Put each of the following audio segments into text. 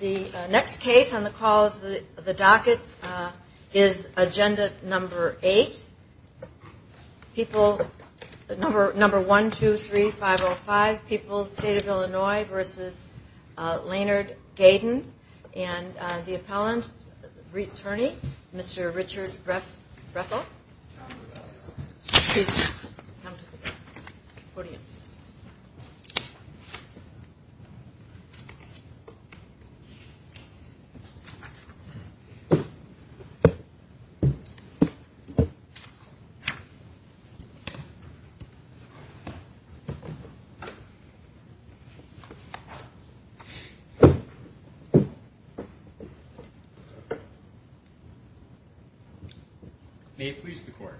The next case on the call of the docket is agenda number 8. People, number 1, 2, 3, 5, 0, 5. People, State of Illinois v. Leonard Gayden. And the appellant, returnee, Mr. Richard Rethel. Please come to the podium. May it please the court,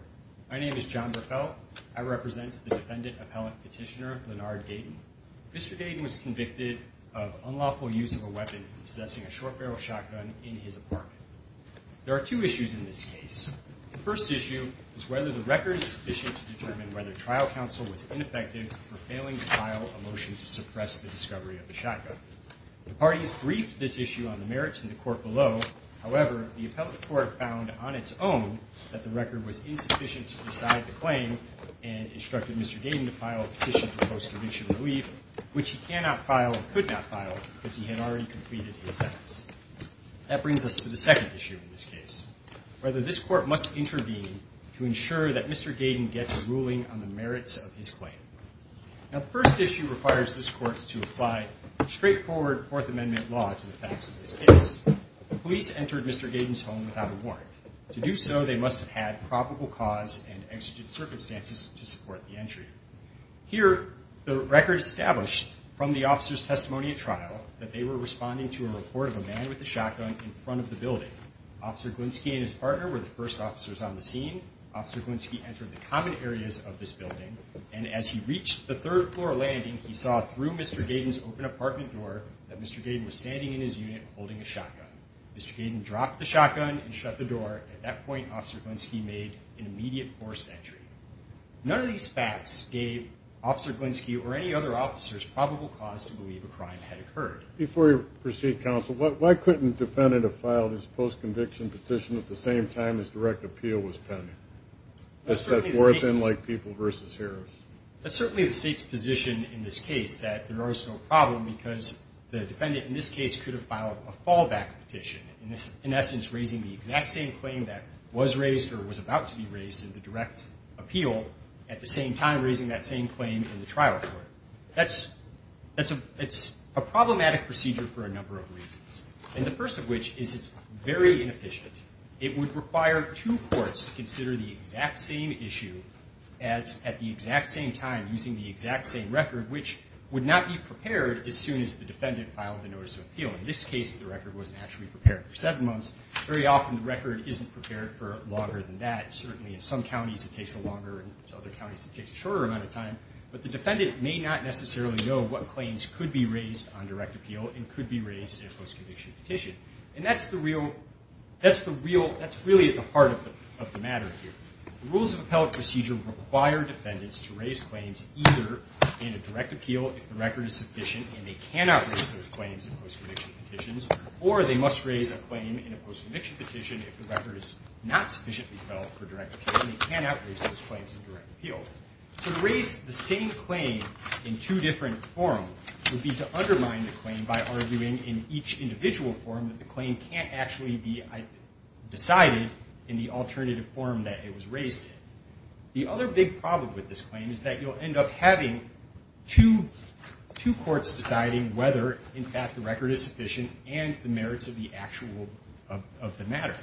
my name is John Rethel. I represent the defendant appellant petitioner, Leonard Gayden. Mr. Gayden was convicted of unlawful use of a weapon for possessing a short barrel shotgun in his apartment. There are two issues in this case. The first issue is whether the record is sufficient to determine whether trial counsel was ineffective for failing to file a motion to suppress the discovery of the shotgun. The parties briefed this issue on the merits of the court below. However, the appellate court found on its own that the record was incomplete and instructed Mr. Gayden to file a petition for post-conviction relief, which he cannot file and could not file because he had already completed his sentence. That brings us to the second issue in this case, whether this court must intervene to ensure that Mr. Gayden gets a ruling on the merits of his claim. Now, the first issue requires this court to apply straightforward Fourth Amendment law to the facts of this case. Police entered Mr. Gayden's home without a warrant. To do so, they must have had probable cause and exigent circumstances to support the entry. Here, the record established from the officer's testimony at trial that they were responding to a report of a man with a shotgun in front of the building. Officer Glinski and his partner were the first officers on the scene. Officer Glinski entered the common areas of this building, and as he reached the third floor landing, he saw through Mr. Gayden's open apartment door Mr. Gayden dropped the shotgun and shut the door. At that point, Officer Glinski made an immediate forced entry. None of these facts gave Officer Glinski or any other officers probable cause to believe a crime had occurred. Before we proceed, counsel, why couldn't a defendant have filed his post-conviction petition at the same time his direct appeal was pending? That's certainly the state's position in this case that there is no problem because the defendant in this case could have filed a fallback petition, in essence, raising the exact same claim that was raised or was about to be raised in the direct appeal at the same time raising that same claim in the trial court. That's a problematic procedure for a number of reasons. The first of which is it's very inefficient. It would require two courts to consider the exact same issue at the exact same time using the exact same record, which would not be prepared as soon as the defendant filed the notice of appeal. In this case, the record wasn't actually prepared for seven months. Very often the record isn't prepared for longer than that. Certainly in some counties it takes longer, and in other counties it takes a shorter amount of time. But the defendant may not necessarily know what claims could be raised on direct appeal and could be raised in a post-conviction petition. And that's really at the heart of the matter here. Rules of appellate procedure require defendants to raise claims either in a direct appeal if the record is sufficient and they cannot raise those claims in post-conviction petitions, or they must raise a claim in a post-conviction petition if the record is not sufficiently felt for direct appeal and they cannot raise those claims in direct appeal. So to raise the same claim in two different forms would be to undermine the claim by arguing in each individual form that the claim can't actually be decided in the alternative form that it was raised in. The other big problem with this claim is that you'll end up having two courts deciding whether, in fact, the record is sufficient and the merits of the matter.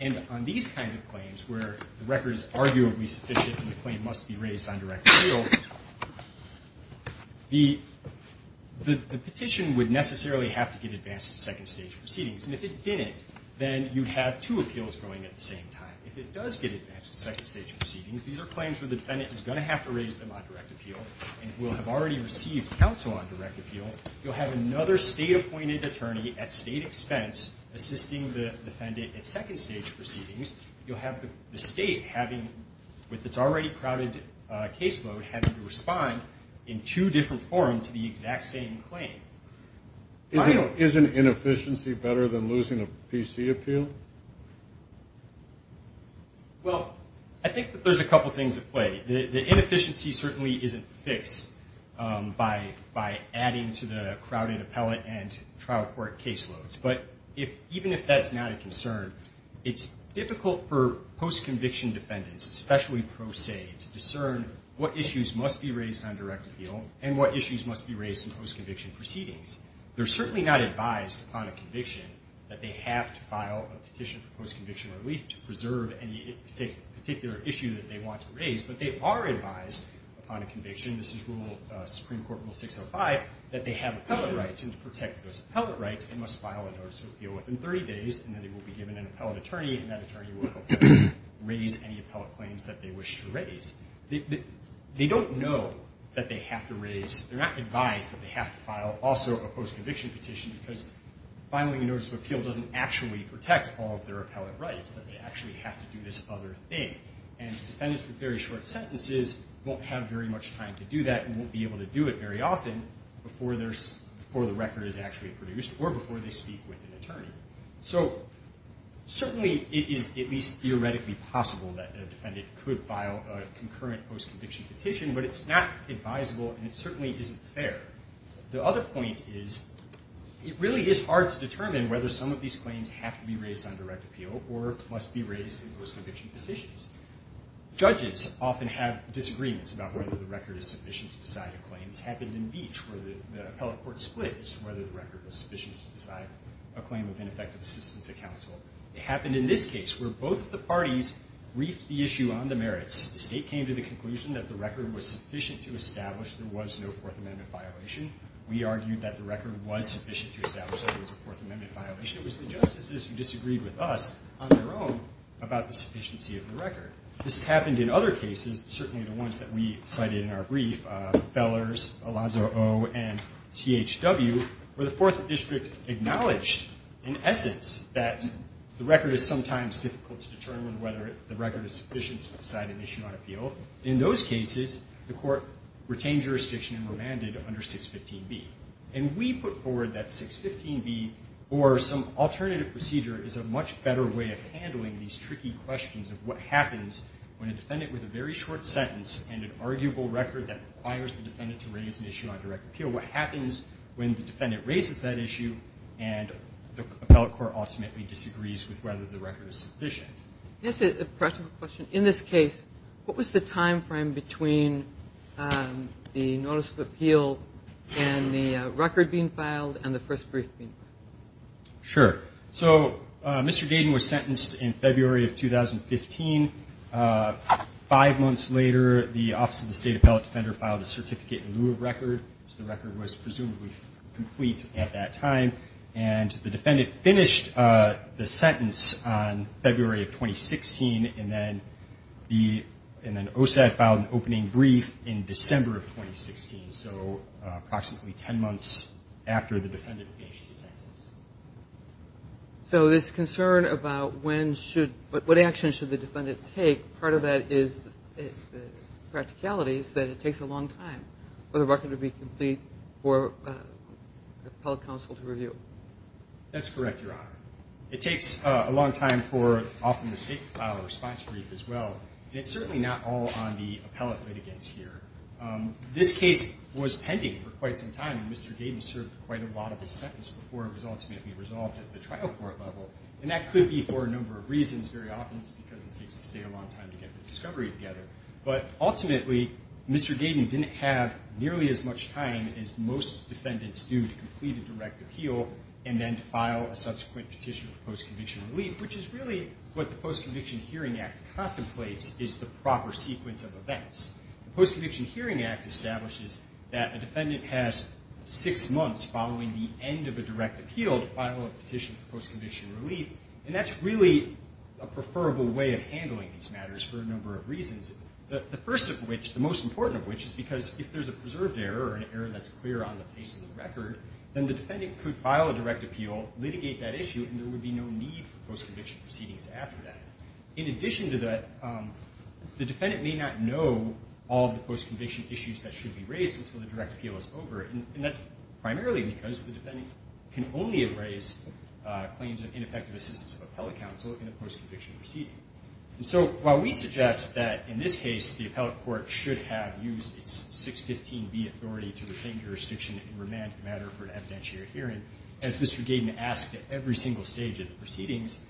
And on these kinds of claims where the record is arguably sufficient and the claim must be raised on direct appeal, the petition would necessarily have to get advanced to second-stage proceedings. And if it didn't, then you'd have two appeals going at the same time. If it does get advanced to second-stage proceedings, these are claims where the defendant is going to have to raise them on direct appeal and will have already received counsel on direct appeal. You'll have another state-appointed attorney at state expense assisting the defendant at second-stage proceedings. You'll have the state having, with its already crowded caseload, having to respond in two different forms to the exact same claim. Is an inefficiency better than losing a PC appeal? Well, I think that there's a couple things at play. The inefficiency certainly isn't fixed by adding to the crowded appellate and trial court caseloads. But even if that's not a concern, it's difficult for post-conviction defendants, especially pro se, to discern what issues must be raised on direct appeal and what issues must be raised in post-conviction proceedings. They're certainly not advised upon a conviction that they have to file a petition for post-conviction relief to preserve any particular issue that they want to raise. But they are advised upon a conviction, this is Supreme Court Rule 605, that they have appellate rights, and to protect those appellate rights, they must file a notice of appeal within 30 days, and then they will be given an appellate attorney, and that attorney will raise any appellate claims that they wish to raise. They don't know that they have to raise, they're not advised that they have to file also a post-conviction petition, because filing a notice of appeal doesn't actually protect all of their appellate rights, that they actually have to do this other thing. And defendants with very short sentences won't have very much time to do that and won't be able to do it very often before the record is actually produced or before they speak with an attorney. So certainly it is at least theoretically possible that a defendant could file a concurrent post-conviction petition, but it's not advisable and it certainly isn't fair. The other point is it really is hard to determine whether some of these claims have to be raised on direct appeal or must be raised in post-conviction petitions. Judges often have disagreements about whether the record is sufficient to decide a claim. It's happened in Beach where the appellate court split as to whether the record was sufficient to decide a claim of ineffective assistance at counsel. It happened in this case where both of the parties briefed the issue on the merits. The State came to the conclusion that the record was sufficient to establish there was no Fourth Amendment violation. We argued that the record was sufficient to establish there was a Fourth Amendment violation. It was the justices who disagreed with us on their own about the sufficiency of the record. This has happened in other cases, certainly the ones that we cited in our brief, Feller's, Alonzo O., and CHW, where the Fourth District acknowledged in essence that the record is sometimes difficult to determine whether the record is sufficient to decide an issue on appeal. In those cases, the court retained jurisdiction and remanded under 615B. And we put forward that 615B or some alternative procedure is a much better way of handling these tricky questions of what happens when a defendant with a very short sentence and an arguable record that requires the defendant to raise an issue on direct appeal, what happens when the defendant raises that issue and the appellate court ultimately disagrees with whether the record is sufficient. Can I ask a practical question? In this case, what was the time frame between the notice of appeal and the record being filed and the first brief being filed? Sure. So Mr. Gaden was sentenced in February of 2015. Five months later, the Office of the State Appellate Defender filed a certificate in lieu of record, which the record was presumably complete at that time. And the defendant finished the sentence on February of 2016, and then the OSAD filed an opening brief in December of 2016, so approximately 10 months after the defendant finished the sentence. So this concern about what action should the defendant take, part of that is the practicality is that it takes a long time for the record to be complete for the appellate counsel to review. That's correct, Your Honor. It takes a long time for often the state to file a response brief as well, and it's certainly not all on the appellate that it gets here. This case was pending for quite some time, and Mr. Gaden served quite a lot of his sentence before it was ultimately resolved at the trial court level. And that could be for a number of reasons. Very often it's because it takes the state a long time to get the discovery together. But ultimately, Mr. Gaden didn't have nearly as much time as most defendants do to complete a direct appeal and then to file a subsequent petition for post-conviction relief, which is really what the Post-Conviction Hearing Act contemplates is the proper sequence of events. The Post-Conviction Hearing Act establishes that a defendant has six months following the end of a direct appeal to file a petition for post-conviction relief, and that's really a preferable way of handling these matters for a number of reasons, the first of which, the most important of which, is because if there's a preserved error or an error that's clear on the face of the record, then the defendant could file a direct appeal, litigate that issue, and there would be no need for post-conviction proceedings after that. In addition to that, the defendant may not know all of the post-conviction issues that should be raised until the direct appeal is over, and that's primarily because the defendant can only raise claims of ineffective assistance of appellate counsel in a post-conviction proceeding. And so while we suggest that, in this case, the appellate court should have used its 615B authority to retain jurisdiction and remand the matter for an evidentiary hearing, as Mr. Gaden asked at every single stage of the proceedings,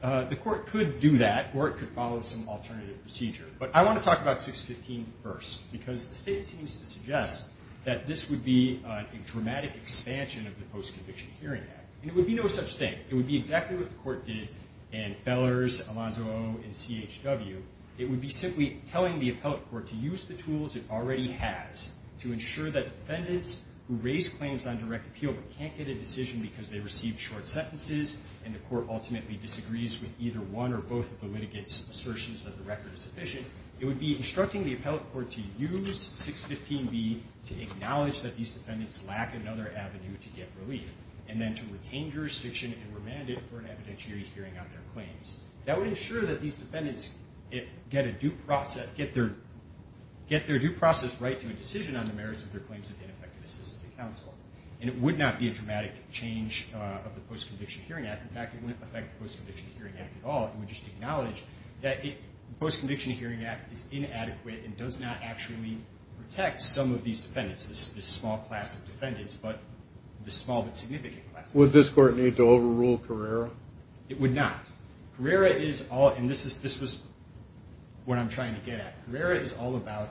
the court could do that, or it could follow some alternative procedure. But I want to talk about 615 first, because the statement seems to suggest that this would be a dramatic expansion of the Post-Conviction Hearing Act, and it would be no such thing. It would be exactly what the court did in Fellers, Alonzo O, and CHW. It would be simply telling the appellate court to use the tools it already has to ensure that defendants who raise claims on direct appeal but can't get a decision because they received short sentences and the court ultimately disagrees with either one or both of the litigants' assertions that the record is sufficient, it would be instructing the appellate court to use 615B to acknowledge that these defendants lack another avenue to get relief and then to retain jurisdiction and remand it for an evidentiary hearing on their claims. That would ensure that these defendants get a due process, get their due process right to a decision on the merits of their claims of ineffective assistance of counsel. And it would not be a dramatic change of the Post-Conviction Hearing Act. In fact, it wouldn't affect the Post-Conviction Hearing Act at all. It would just acknowledge that the Post-Conviction Hearing Act is inadequate and does not actually protect some of these defendants, this small class of defendants but this small but significant class of defendants. Would this court need to overrule Carrera? It would not. Carrera is all, and this is what I'm trying to get at. Carrera is all about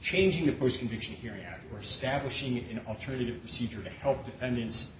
changing the Post-Conviction Hearing Act or establishing an alternative procedure to help defendants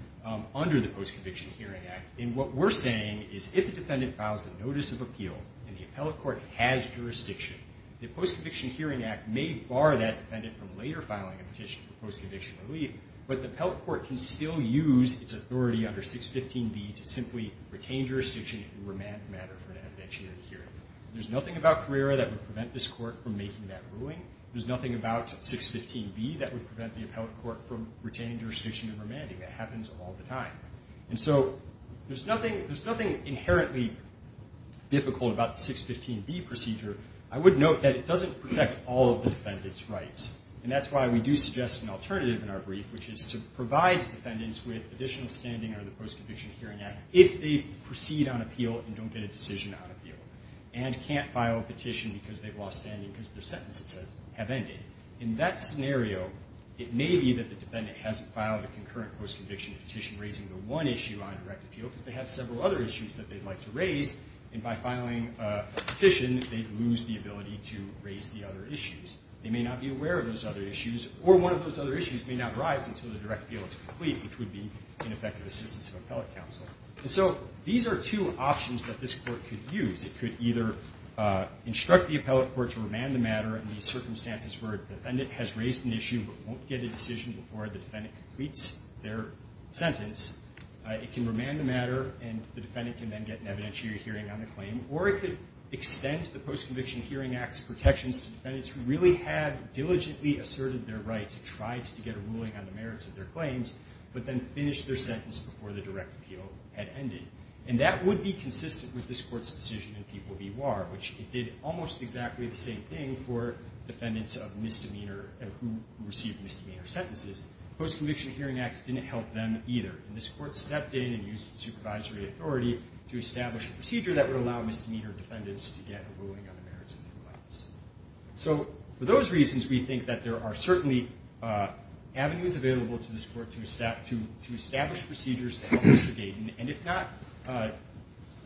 under the Post-Conviction Hearing Act. And what we're saying is if a defendant files a notice of appeal and the appellate court has jurisdiction, the Post-Conviction Hearing Act may bar that defendant from later filing a petition for post-conviction relief, but the appellate court can still use its authority under 615B to simply retain jurisdiction and remand the matter for an evidentiary hearing. There's nothing about Carrera that would prevent this court from making that ruling. There's nothing about 615B that would prevent the appellate court from retaining jurisdiction and remanding. That happens all the time. And so there's nothing inherently difficult about the 615B procedure. I would note that it doesn't protect all of the defendant's rights, and that's why we do suggest an alternative in our brief, which is to provide defendants with additional standing under the Post-Conviction Hearing Act if they proceed on appeal and don't get a decision on appeal, and can't file a petition because they've lost standing because their sentences have ended. In that scenario, it may be that the defendant hasn't filed a concurrent post-conviction petition raising the one issue on direct appeal because they have several other issues that they'd like to raise, and by filing a petition, they'd lose the ability to raise the other issues. They may not be aware of those other issues, or one of those other issues may not rise until the direct appeal is complete, which would be ineffective assistance of appellate counsel. And so these are two options that this court could use. It could either instruct the appellate court to remand the matter in these circumstances where a defendant has raised an issue but won't get a decision before the defendant completes their sentence. It can remand the matter, and the defendant can then get an evidentiary hearing on the claim. Or it could extend the Post-Conviction Hearing Act's protections to defendants who really have diligently asserted their right to try to get a ruling on the merits of their claims, but then finish their sentence before the direct appeal had ended. And that would be consistent with this court's decision in People v. Warr, which it did almost exactly the same thing for defendants of misdemeanor and who received misdemeanor sentences. The Post-Conviction Hearing Act didn't help them either, and this court stepped in and used the supervisory authority to establish a procedure that would allow misdemeanor defendants to get a ruling on the merits of their claims. So for those reasons, we think that there are certainly avenues available to this court to establish procedures to help Mr. Gayden, and if not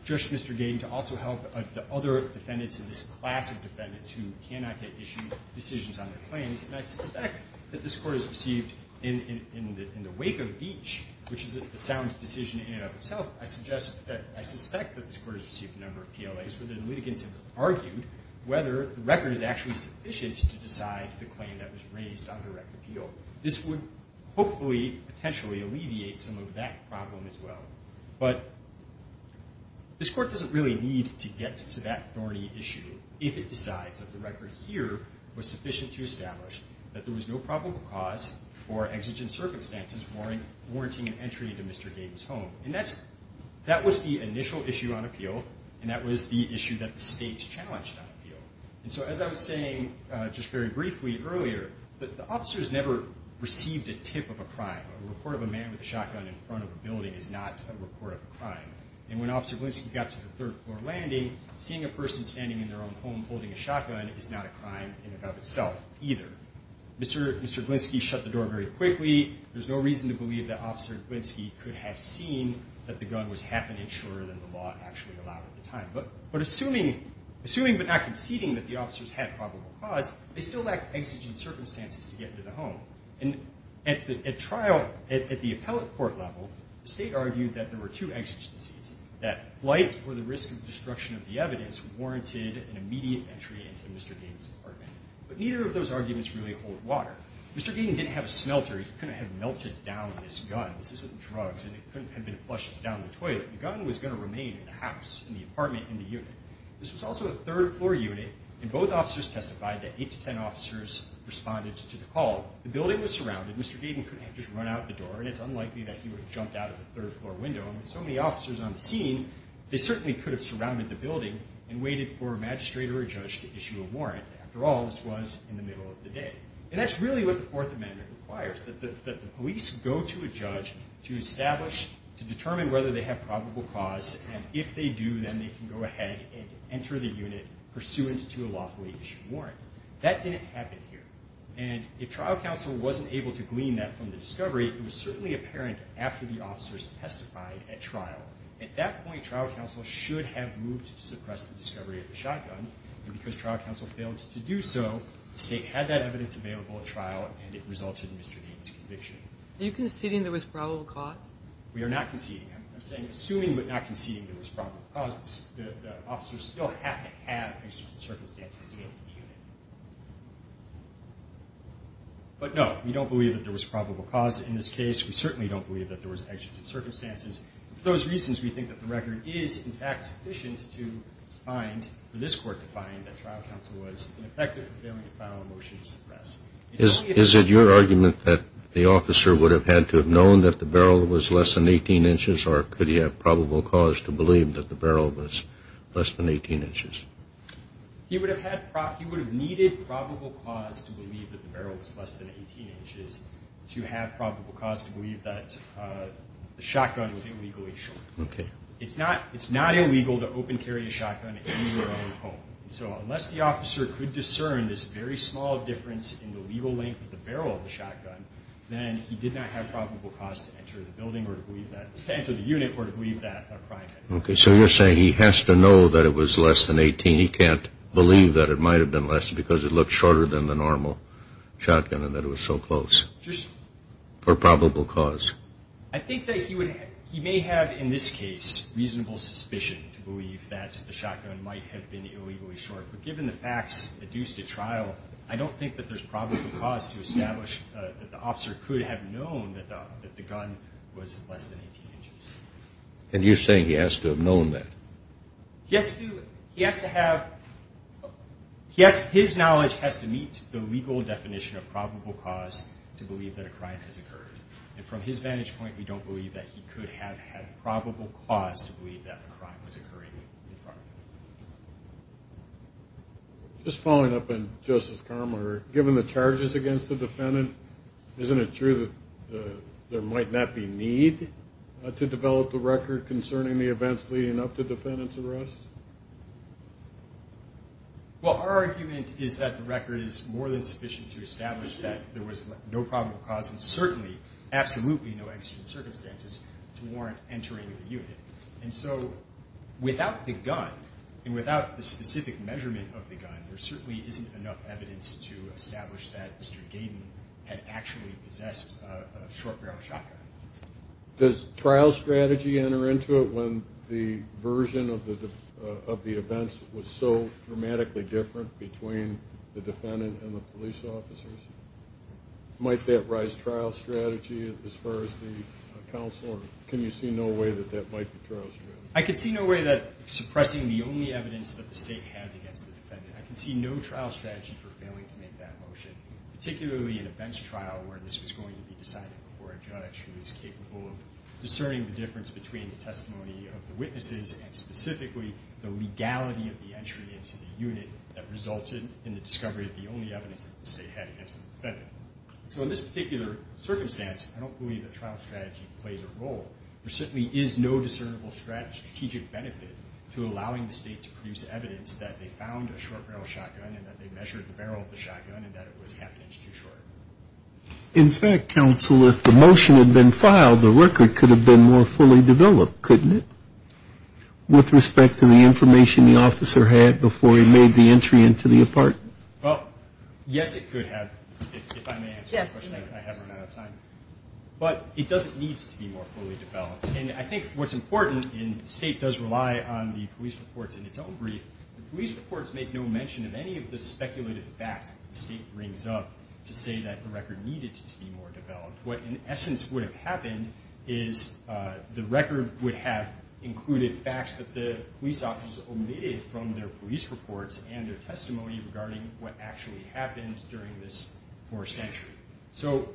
just Mr. Gayden, to also help the other defendants in this class of defendants who cannot get issued decisions on their claims. And I suspect that this court has received in the wake of each, which is a sound decision in and of itself, I suggest that I suspect that this court has received a number of PLAs where the litigants have argued whether the record is actually sufficient to decide the claim that was raised on direct appeal. So this would hopefully potentially alleviate some of that problem as well. But this court doesn't really need to get to that thorny issue if it decides that the record here was sufficient to establish that there was no probable cause for exigent circumstances warranting an entry into Mr. Gayden's home. And that was the initial issue on appeal, and that was the issue that the state challenged on appeal. And so as I was saying just very briefly earlier, the officers never received a tip of a crime. A report of a man with a shotgun in front of a building is not a report of a crime. And when Officer Glinsky got to the third floor landing, seeing a person standing in their own home holding a shotgun is not a crime in and of itself either. Mr. Glinsky shut the door very quickly. There's no reason to believe that Officer Glinsky could have seen that the gun was half an inch shorter than the law actually allowed at the time. But assuming but not conceding that the officers had probable cause, they still lacked exigent circumstances to get into the home. And at the trial, at the appellate court level, the state argued that there were two exigencies, that flight or the risk of destruction of the evidence warranted an immediate entry into Mr. Gayden's apartment. But neither of those arguments really hold water. Mr. Gayden didn't have a smelter. He couldn't have melted down this gun. This isn't drugs, and it couldn't have been flushed down the toilet. The gun was going to remain in the house, in the apartment, in the unit. This was also a third floor unit, and both officers testified that 8 to 10 officers responded to the call. The building was surrounded. Mr. Gayden couldn't have just run out the door, and it's unlikely that he would have jumped out of the third floor window. And with so many officers on the scene, they certainly could have surrounded the building and waited for a magistrate or a judge to issue a warrant. After all, this was in the middle of the day. And that's really what the Fourth Amendment requires, that the police go to a judge to establish, to determine whether they have probable cause, and if they do, then they can go ahead and enter the unit pursuant to a lawfully issued warrant. That didn't happen here. And if trial counsel wasn't able to glean that from the discovery, it was certainly apparent after the officers testified at trial. At that point, trial counsel should have moved to suppress the discovery of the shotgun. And because trial counsel failed to do so, the State had that evidence available at trial, and it resulted in Mr. Gayden's conviction. Are you conceding there was probable cause? We are not conceding. I'm saying assuming but not conceding there was probable cause, the officers still have to have exigent circumstances to get into the unit. But no, we don't believe that there was probable cause in this case. We certainly don't believe that there was exigent circumstances. For those reasons, we think that the record is, in fact, sufficient to find, for this Court to find, that trial counsel was ineffective for failing to file a motion to suppress. Is it your argument that the officer would have had to have known that the barrel was less than 18 inches, or could he have probable cause to believe that the barrel was less than 18 inches? He would have needed probable cause to believe that the barrel was less than 18 inches to have probable cause to believe that the shotgun was illegally shot. Okay. It's not illegal to open carry a shotgun in your own home. So unless the officer could discern this very small difference in the legal length of the barrel of the shotgun, then he did not have probable cause to enter the building or to believe that, to enter the unit or to believe that a crime had occurred. Okay. So you're saying he has to know that it was less than 18. He can't believe that it might have been less because it looked shorter than the normal shotgun and that it was so close. Just. For probable cause. I think that he may have, in this case, reasonable suspicion to believe that the shotgun might have been illegally shot. But given the facts, the dues to trial, I don't think that there's probable cause to establish that the officer could have known that the gun was less than 18 inches. And you're saying he has to have known that. He has to have, his knowledge has to meet the legal definition of probable cause to believe that a crime has occurred. And from his vantage point, we don't believe that he could have had probable cause to believe that a crime was occurring in front of him. Just following up on Justice Carmoner, given the charges against the defendant, isn't it true that there might not be need to develop the record concerning the events leading up to defendant's arrest? Well, our argument is that the record is more than sufficient to establish that there was no probable cause and certainly absolutely no extra circumstances to warrant entering the unit. And so without the gun and without the specific measurement of the gun, there certainly isn't enough evidence to establish that Mr. Gayden had actually possessed a short-range shotgun. Does trial strategy enter into it when the version of the events was so dramatically different between the defendant and the police officers? Might that rise trial strategy as far as the counsel? Can you see no way that that might be trial strategy? I can see no way that suppressing the only evidence that the state has against the defendant. I can see no trial strategy for failing to make that motion, particularly in a bench trial where this was going to be decided before a judge who was capable of discerning the difference between the testimony of the witnesses and specifically the legality of the entry into the unit that resulted in the discovery of the only evidence that the state had against the defendant. So in this particular circumstance, I don't believe that trial strategy plays a role. There certainly is no discernible strategic benefit to allowing the state to produce evidence that they found a short-barrel shotgun and that they measured the barrel of the shotgun and that it was half an inch too short. In fact, counsel, if the motion had been filed, the record could have been more fully developed, couldn't it, with respect to the information the officer had before he made the entry into the apartment? Well, yes, it could have. If I may answer the question, I have run out of time. But it doesn't need to be more fully developed. And I think what's important, and the state does rely on the police reports in its own brief, the police reports make no mention of any of the speculative facts that the state brings up to say that the record needed to be more developed. What in essence would have happened is the record would have included facts that the police officers omitted from their police reports and their So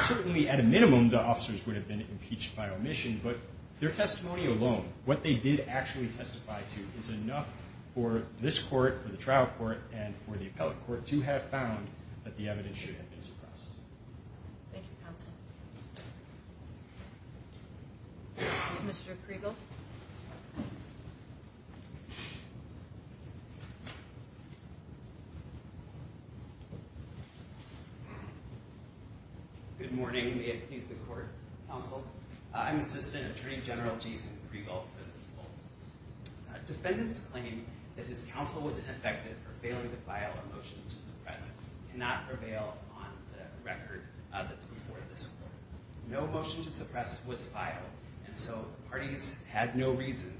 certainly at a minimum the officers would have been impeached by omission, but their testimony alone, what they did actually testify to, is enough for this court, for the trial court, and for the appellate court to have found that the evidence should have been suppressed. Thank you, counsel. Mr. Kriegel. Good morning. May it please the court, counsel. I'm Assistant Attorney General Jason Kriegel for the people. Defendants claim that his counsel was ineffective for failing to file a motion to suppress, cannot prevail on the record that's before this court. No motion to suppress was filed, and so parties had no reason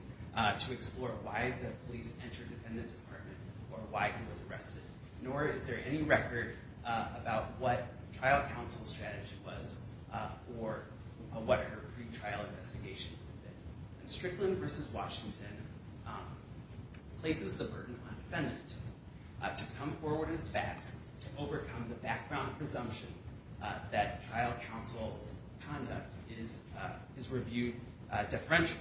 to explore why the police entered the defendant's apartment or why he was arrested, nor is there any record about what trial counsel's strategy was or what her pretrial investigation did. And Strickland v. Washington places the burden on defendant to come forward with facts to overcome the background presumption that trial counsel's conduct is reviewed deferentially.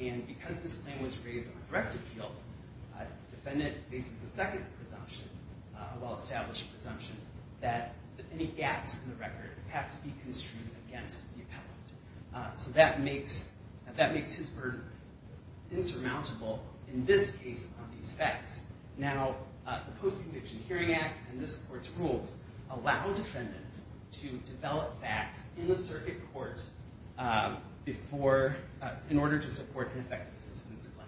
And because this claim was raised on direct appeal, defendant faces a second presumption, a well-established presumption, that any gaps in the record have to be construed against the appellate. So that makes his burden insurmountable in this case on these facts. Now, the Post-Conviction Hearing Act and this court's rules allow defendants to develop facts in the circuit court in order to support an effective assistance claim.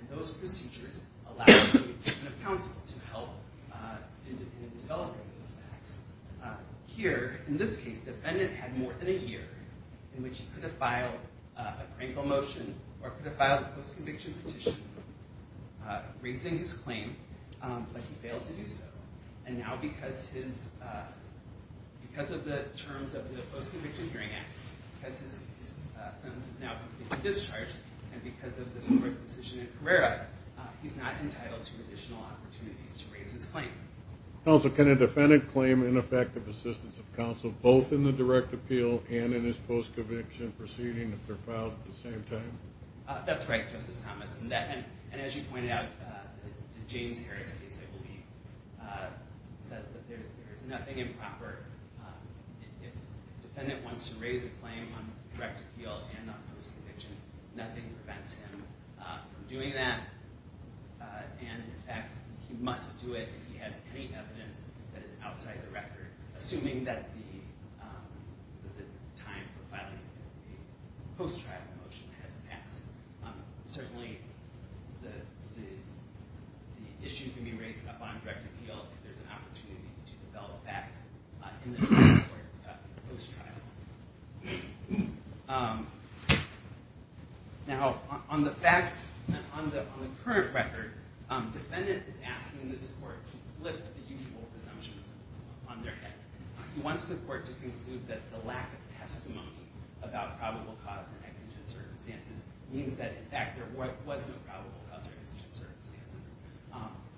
And those procedures allow the Department of Counsel to help in developing those facts. Here, in this case, defendant had more than a year in which he could have filed a Kriegel motion or could have filed a post-conviction petition, raising his claim, but he failed to do so. And now because of the terms of the Post-Conviction Hearing Act, because his sentence is now completely discharged, and because of this court's decision in Carrera, he's not entitled to additional opportunities to raise his claim. Counsel, can a defendant claim ineffective assistance of counsel, both in the direct appeal and in his post-conviction proceeding, if they're filed at the same time? That's right, Justice Thomas. And as you pointed out, the James Harris case, I believe, says that there is nothing improper. If a defendant wants to raise a claim on direct appeal and on post-conviction, nothing prevents him from doing that. And, in fact, he must do it if he has any evidence that is outside the record, assuming that the time for filing a post-trial motion has passed. Certainly, the issue can be raised upon direct appeal if there's an opportunity to develop facts in the trial court post-trial. Now, on the facts, on the current record, the defendant is asking this court to flip the usual presumptions on their head. He wants the court to conclude that the lack of testimony about probable cause and exigent circumstances means that, in fact, there was no probable cause or exigent circumstances.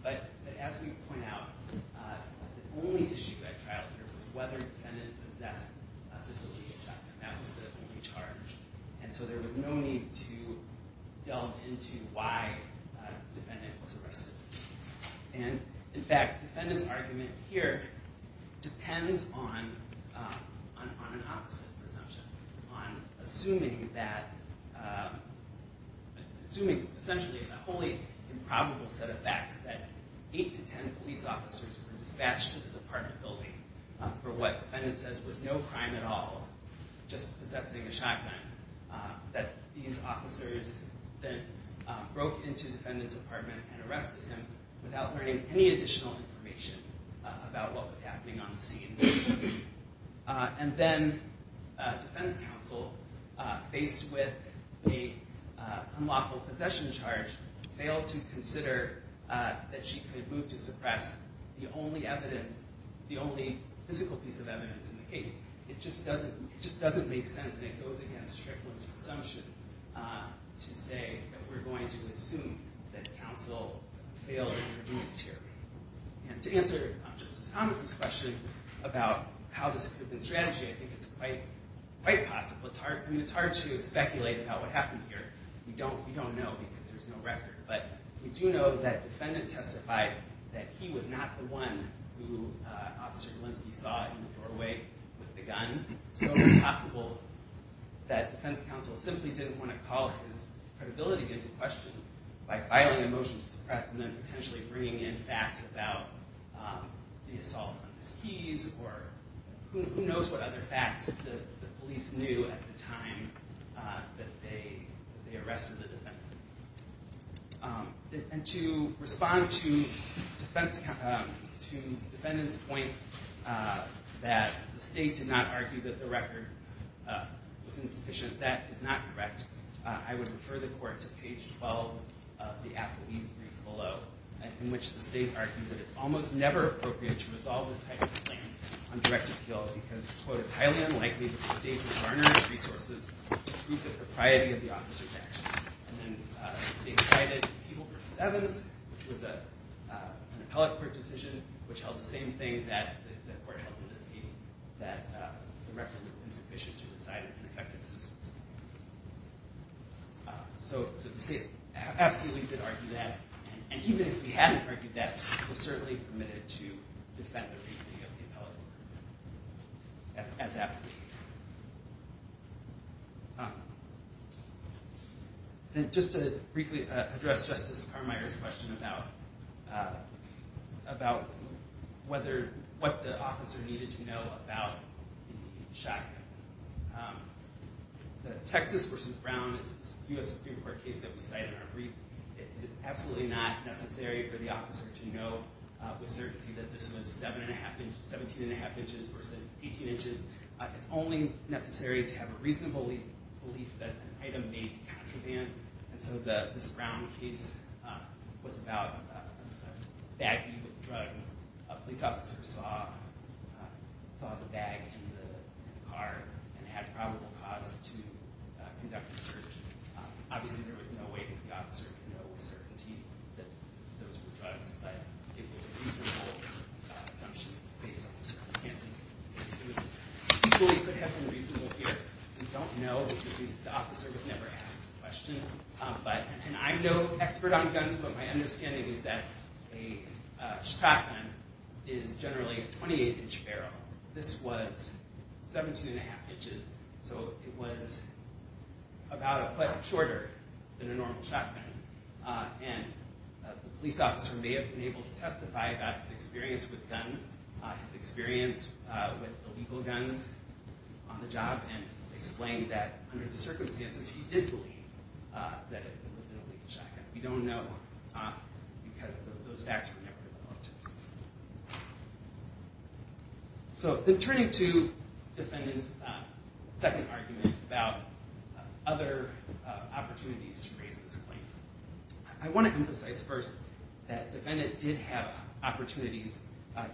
But, as we point out, the only issue at trial here was whether the defendant possessed a disobedient document. That was the only charge. And so there was no need to delve into why the defendant was arrested. And, in fact, the defendant's argument here depends on an opposite presumption, on assuming that, assuming essentially a wholly improbable set of facts that eight to ten police officers were dispatched to this apartment building for what the defendant says was no crime at all, just possessing a shotgun. That these officers then broke into the defendant's apartment and arrested him without learning any additional information about what was happening on the scene. And then defense counsel, faced with the unlawful possession charge, failed to consider that she could move to suppress the only evidence, the only physical piece of evidence in the case. It just doesn't make sense, and it goes against Strickland's assumption to say that we're going to assume that counsel failed in her duties here. And to answer Justice Thomas' question about how this could have been strategized, I think it's quite possible. I mean, it's hard to speculate about what happened here. We don't know because there's no record. But we do know that a defendant testified that he was not the one who Officer Golinski saw in the doorway with the gun. So it's possible that defense counsel simply didn't want to call his credibility into question by filing a motion to suppress and then potentially bringing in facts about the assault on the skis or who knows what other facts the police knew at the time that they arrested the defendant. And to respond to the defendant's point that the state did not argue that the record was insufficient, that is not correct, I would refer the Court to page 12 of the Applebee's brief below, in which the state argued that it's almost never appropriate to resolve this type of complaint on direct appeal because, quote, it's highly unlikely that the state would garner the resources to treat the propriety of the officer's actions. And then the state cited Fugel v. Evans, which was an appellate court decision which held the same thing that the Court held in this case, that the record was insufficient to decide an effective assistance. So the state absolutely did argue that. And even if they hadn't argued that, they were certainly permitted to defend the reasoning of the appellate court, as Applebee did. And just to briefly address Justice Carmeier's question about what the officer needed to know about the shotgun. The Texas v. Brown U.S. Supreme Court case that was cited in our brief, it is absolutely not necessary for the officer to know with certainty that this was 17 1⁄2 inches versus 18 inches. It's only necessary to have a reasonable belief that an item may be contraband. And so this Brown case was about bagging with drugs. A police officer saw the bag in the car and had probable cause to conduct the search. Obviously, there was no way that the officer could know with certainty that those were drugs, but it was a reasonable assumption based on the circumstances. It was equally could have been reasonable here. We don't know because the officer was never asked the question. And I'm no expert on guns, but my understanding is that a shotgun is generally a 28-inch barrel. This was 17 1⁄2 inches. So it was about a foot shorter than a normal shotgun. And the police officer may have been able to testify about his experience with guns, his experience with illegal guns on the job, and explain that under the circumstances he did believe that it was an illegal shotgun. We don't know because those facts were never developed. So then turning to defendant's second argument about other opportunities to raise this claim, I want to emphasize first that defendant did have opportunities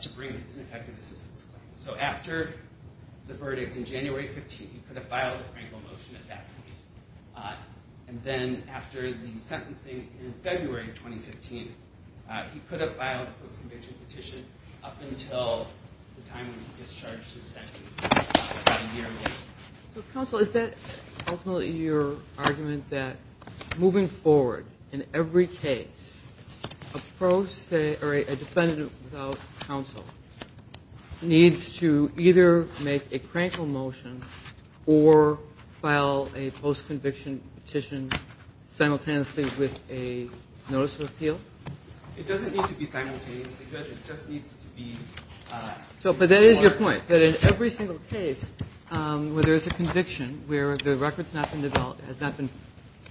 to bring his ineffective assistance claim. So after the verdict in January 15, he could have filed a Frankel motion at that point. And then after the sentencing in February 2015, he could have filed a post-conviction petition up until the time when he discharged his sentence about a year ago. Counsel, is that ultimately your argument that moving forward in every case, a defendant without counsel needs to either make a Frankel motion or file a post-conviction petition simultaneously with a notice of appeal? It doesn't need to be simultaneously, Judge. It just needs to be. But that is your point, that in every single case where there is a conviction, where the record has not been developed, has not been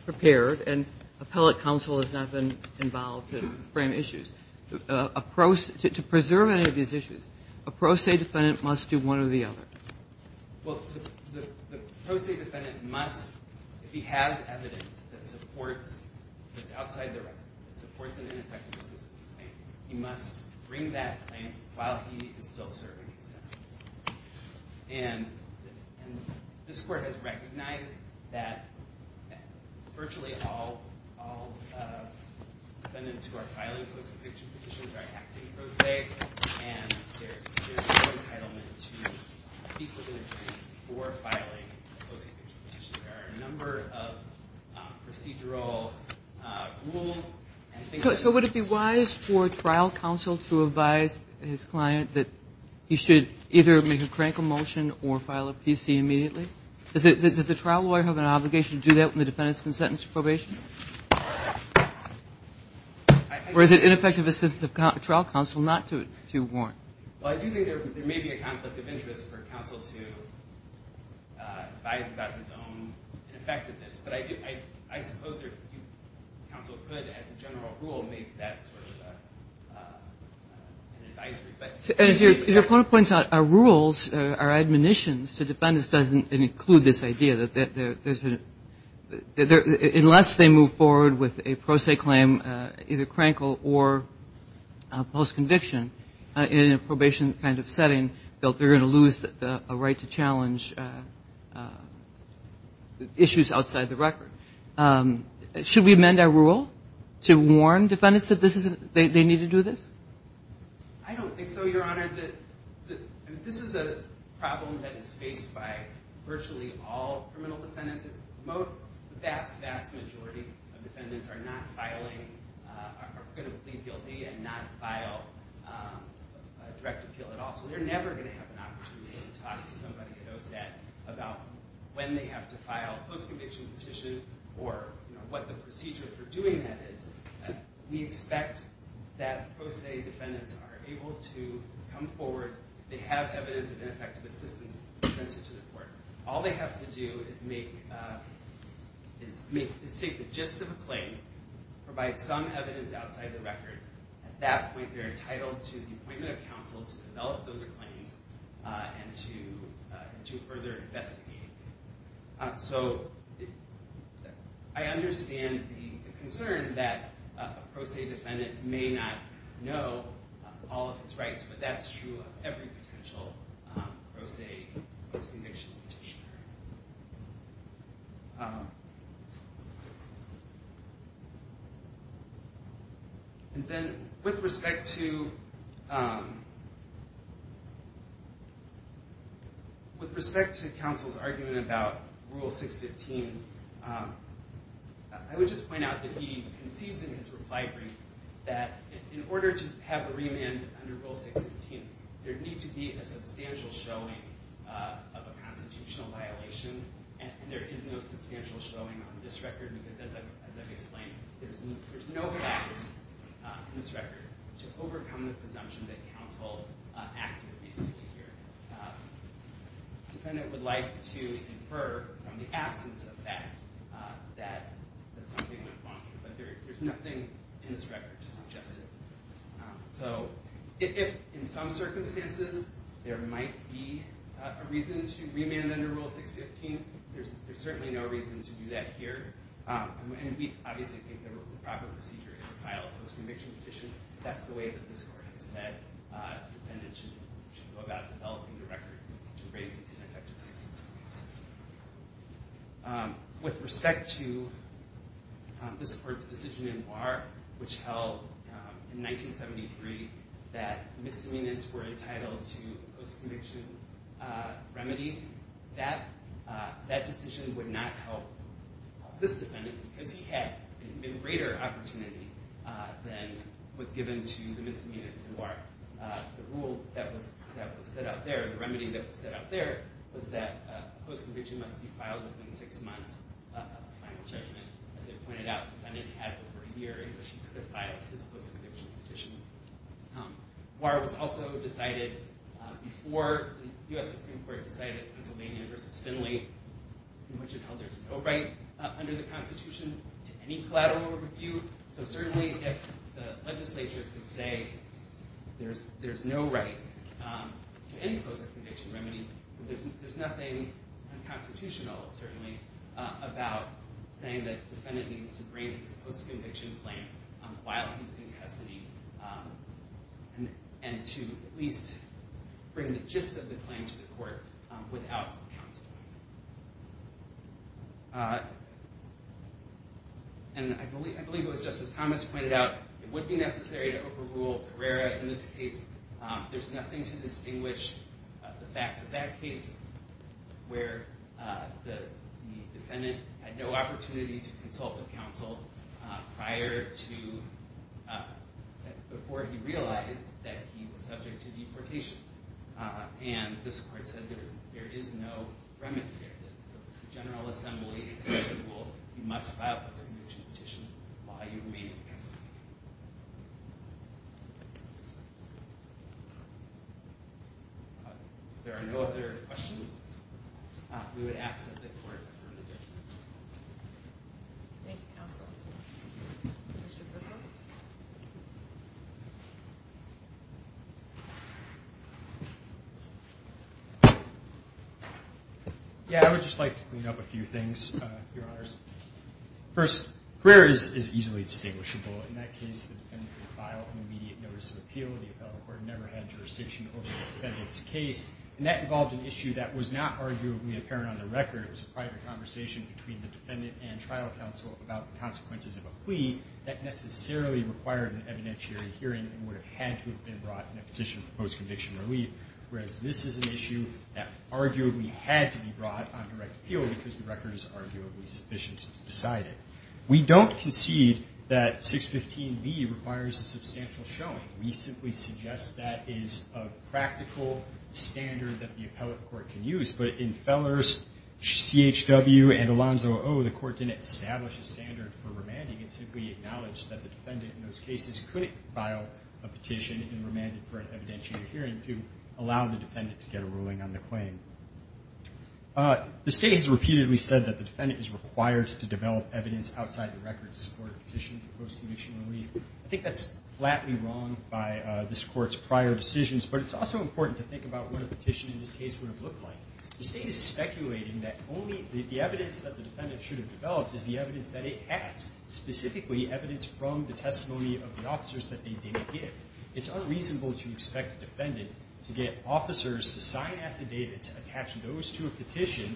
prepared, and appellate counsel has not been involved to frame issues. To preserve any of these issues, a pro se defendant must do one or the other. Well, the pro se defendant must, if he has evidence that supports, that's outside the record, that supports an ineffective assistance claim, he must bring that claim while he is still serving his sentence. And this Court has recognized that virtually all defendants who are filing post-conviction petitions are acting pro se, and there is no entitlement to speak within a jury for filing a post-conviction petition. There are a number of procedural rules. So would it be wise for trial counsel to advise his client that he should either make a Frankel motion or file a PC immediately? Does the trial lawyer have an obligation to do that when the defendant is sentenced to probation? Or is it ineffective assistance of trial counsel not to warrant? Well, I do think there may be a conflict of interest for counsel to advise about his own ineffectiveness, but I suppose counsel could, as a general rule, make that sort of an advisory. But as your point points out, our rules, our admonitions to defendants doesn't include this idea that there's a – unless they move forward with a pro se claim, either Frankel or post-conviction, in a probation kind of setting, they're going to lose a right to challenge issues outside the record. Should we amend our rule to warn defendants that they need to do this? I don't think so, Your Honor. This is a problem that is faced by virtually all criminal defendants. The vast, vast majority of defendants are not filing – are going to plead guilty and not file a direct appeal at all. So they're never going to have an opportunity to talk to somebody at OSAT about when they have to file a post-conviction petition or what the procedure for doing that is. We expect that pro se defendants are able to come forward if they have evidence of ineffective assistance presented to the court. All they have to do is make the gist of a claim, provide some evidence outside the record. At that point, they're entitled to the appointment of counsel to develop those claims and to further investigate. So I understand the concern that a pro se defendant may not know all of his rights, but that's true of every potential pro se post-conviction petitioner. And then with respect to – with respect to counsel's argument about Rule 615, I would just point out that he concedes in his reply brief that in order to have a remand under Rule 615, there'd need to be a substantial showing of a constitutional violation, and there is no substantial showing on this record because, as I've explained, there's no facts in this record to overcome the presumption that counsel acted reasonably here. A defendant would like to infer from the absence of fact that something went wrong, but there's nothing in this record to suggest it. So if, in some circumstances, there might be a reason to remand under Rule 615, there's certainly no reason to do that here. And we obviously think the proper procedure is to file a post-conviction petition. That's the way that this Court has said a defendant should go about developing the record to raise its ineffectiveness. With respect to this Court's decision in Warr, which held in 1973 that misdemeanors were entitled to post-conviction remedy, that decision would not help this defendant because he had a greater opportunity than was given to the misdemeanors in Warr. The rule that was set out there, the remedy that was set out there, was that a post-conviction must be filed within six months of a final judgment. As I pointed out, the defendant had over a year in which he could have filed his post-conviction petition. Warr was also decided before the U.S. Supreme Court decided Pennsylvania v. Finley, in which it held there's no right under the Constitution to any collateral review. So certainly if the legislature could say there's no right to any post-conviction remedy, there's nothing unconstitutional, certainly, about saying that the defendant needs to bring his post-conviction claim while he's in custody and to at least bring the gist of the claim to the Court without counsel. And I believe it was Justice Thomas who pointed out it would be necessary to overrule Carrera. In this case, there's nothing to distinguish the facts of that case where the defendant had no opportunity to consult with counsel prior to, before he realized that he was subject to deportation. And this Court said there is no remedy here. The General Assembly said you must file a post-conviction petition while you remain in custody. If there are no other questions, we would ask that the Court confirm the judgment. Thank you, counsel. Mr. Griffin? Yeah, I would just like to clean up a few things, Your Honors. First, Carrera is easily distinguishable. In that case, the defendant could file an immediate notice of appeal. The appellate court never had jurisdiction over the defendant's case. And that involved an issue that was not arguably apparent on the record. It was a private conversation between the defendant and trial counsel about the consequences of a plea that necessarily required an evidentiary hearing and would have had to have been brought in a petition for post-conviction relief. Whereas this is an issue that arguably had to be brought on direct appeal because the record is arguably sufficient to decide it. We don't concede that 615B requires a substantial showing. We simply suggest that is a practical standard that the appellate court can use. But in Fellers, CHW, and Alonzo O, the Court didn't establish a standard for remanding. It simply acknowledged that the defendant in those cases couldn't file a petition and remanded for an evidentiary hearing to allow the defendant to get a ruling on the claim. The State has repeatedly said that the defendant is required to develop evidence outside the record to support a petition for post-conviction relief. I think that's flatly wrong by this Court's prior decisions, but it's also important to think about what a petition in this case would have looked like. The State is speculating that only the evidence that the defendant should have developed is the evidence that it has, specifically evidence from the testimony of the officers that they didn't give. It's unreasonable to expect a defendant to get officers to sign affidavits, attach those to a petition,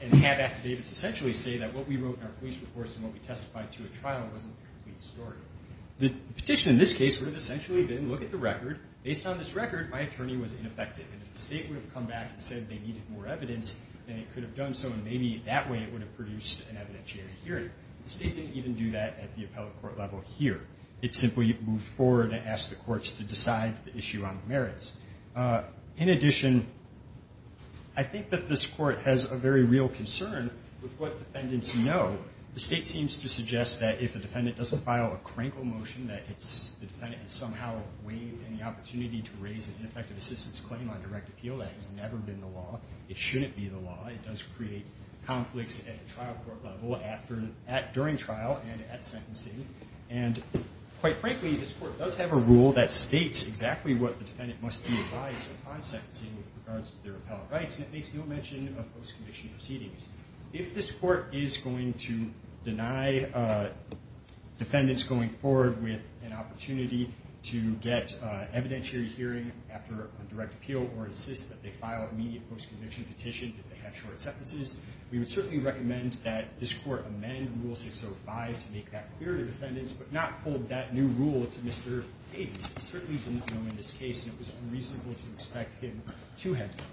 and have affidavits essentially say that what we wrote in our police reports and what we testified to at trial wasn't the complete story. The petition in this case would have essentially been, look at the record. Based on this record, my attorney was ineffective. And if the State would have come back and said they needed more evidence, then it could have done so, and maybe that way it would have produced an evidentiary hearing. The State didn't even do that at the appellate court level here. It simply moved forward and asked the courts to decide the issue on the merits. In addition, I think that this Court has a very real concern with what defendants know. The State seems to suggest that if a defendant doesn't file a crankle motion, that it's the defendant has somehow waived any opportunity to raise an ineffective assistance claim on direct appeal. That has never been the law. It shouldn't be the law. It does create conflicts at the trial court level during trial and at sentencing. And quite frankly, this Court does have a rule that states exactly what the defendant must be advised upon sentencing with regards to their appellate rights, and it makes no mention of post-commission proceedings. If this Court is going to deny defendants going forward with an opportunity to get an evidentiary hearing after a direct appeal or insist that they file immediate post-commission petitions if they have short sentences, we would certainly recommend that this Court amend Rule 605 to make that clear to defendants but not hold that new rule to Mr. Hayden. He certainly didn't know in this case, and it was unreasonable to expect him to have that.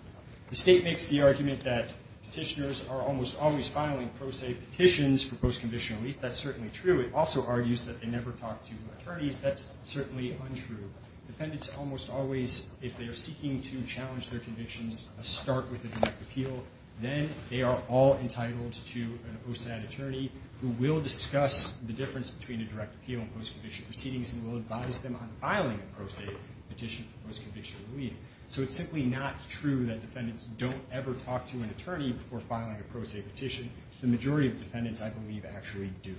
The State makes the argument that petitioners are almost always filing pro se petitions for post-commission relief. That's certainly true. It also argues that they never talk to attorneys. That's certainly untrue. Defendants almost always, if they are seeking to challenge their convictions, start with a direct appeal. Then they are all entitled to an OSAD attorney who will discuss the difference between a direct appeal and post-commission proceedings and will advise them on filing a pro se petition for post-commission relief. So it's simply not true that defendants don't ever talk to an attorney before filing a pro se petition. The majority of defendants, I believe, actually do.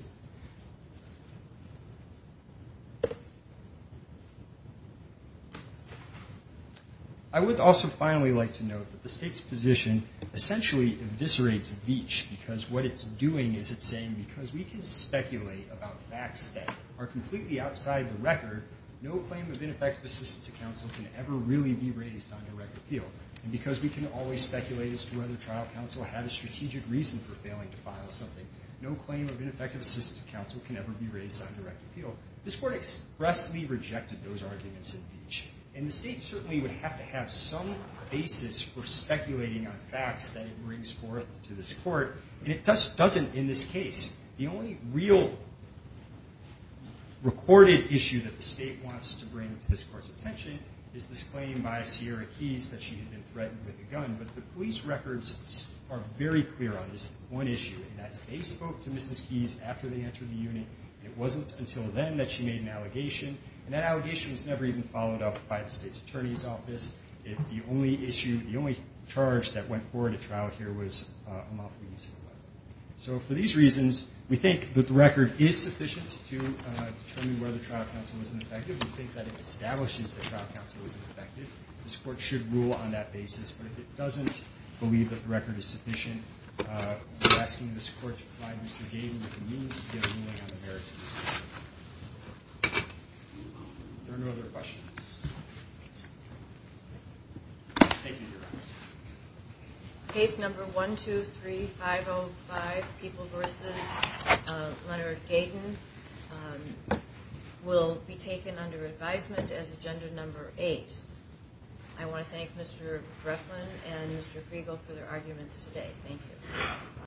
I would also finally like to note that the State's position essentially eviscerates Veech because what it's doing is it's saying because we can speculate about facts that are completely outside the record, no claim of ineffective assistance to counsel can ever really be raised on direct appeal. And because we can always speculate as to whether trial counsel had a strategic reason for failing to file something, no claim of ineffective assistance to counsel can ever be raised on direct appeal. This Court expressly rejected those arguments in Veech. And the State certainly would have to have some basis for speculating on facts that it brings forth to this Court. And it doesn't in this case. The only real recorded issue that the State wants to bring to this Court's attention is this claim by Sierra Keyes that she had been threatened with a gun. But the police records are very clear on this one issue, and that's they spoke to Mrs. Keyes after they entered the unit, and it wasn't until then that she made an allegation. And that allegation was never even followed up by the State's Attorney's Office. The only issue, the only charge that went forward at trial here was unlawful use of a weapon. So for these reasons, we think that the record is sufficient to determine whether trial counsel was ineffective. We think that it establishes that trial counsel was ineffective. This Court should rule on that basis. But if it doesn't believe that the record is sufficient, we're asking this Court to provide Mr. Gayden with the means to get a ruling on the merits of this case. If there are no other questions. Thank you, Your Honor. Case number 123505, People v. Leonard Gayden, will be taken under advisement as agenda number eight. I want to thank Mr. Griffin and Mr. Griegel for their arguments today. Thank you.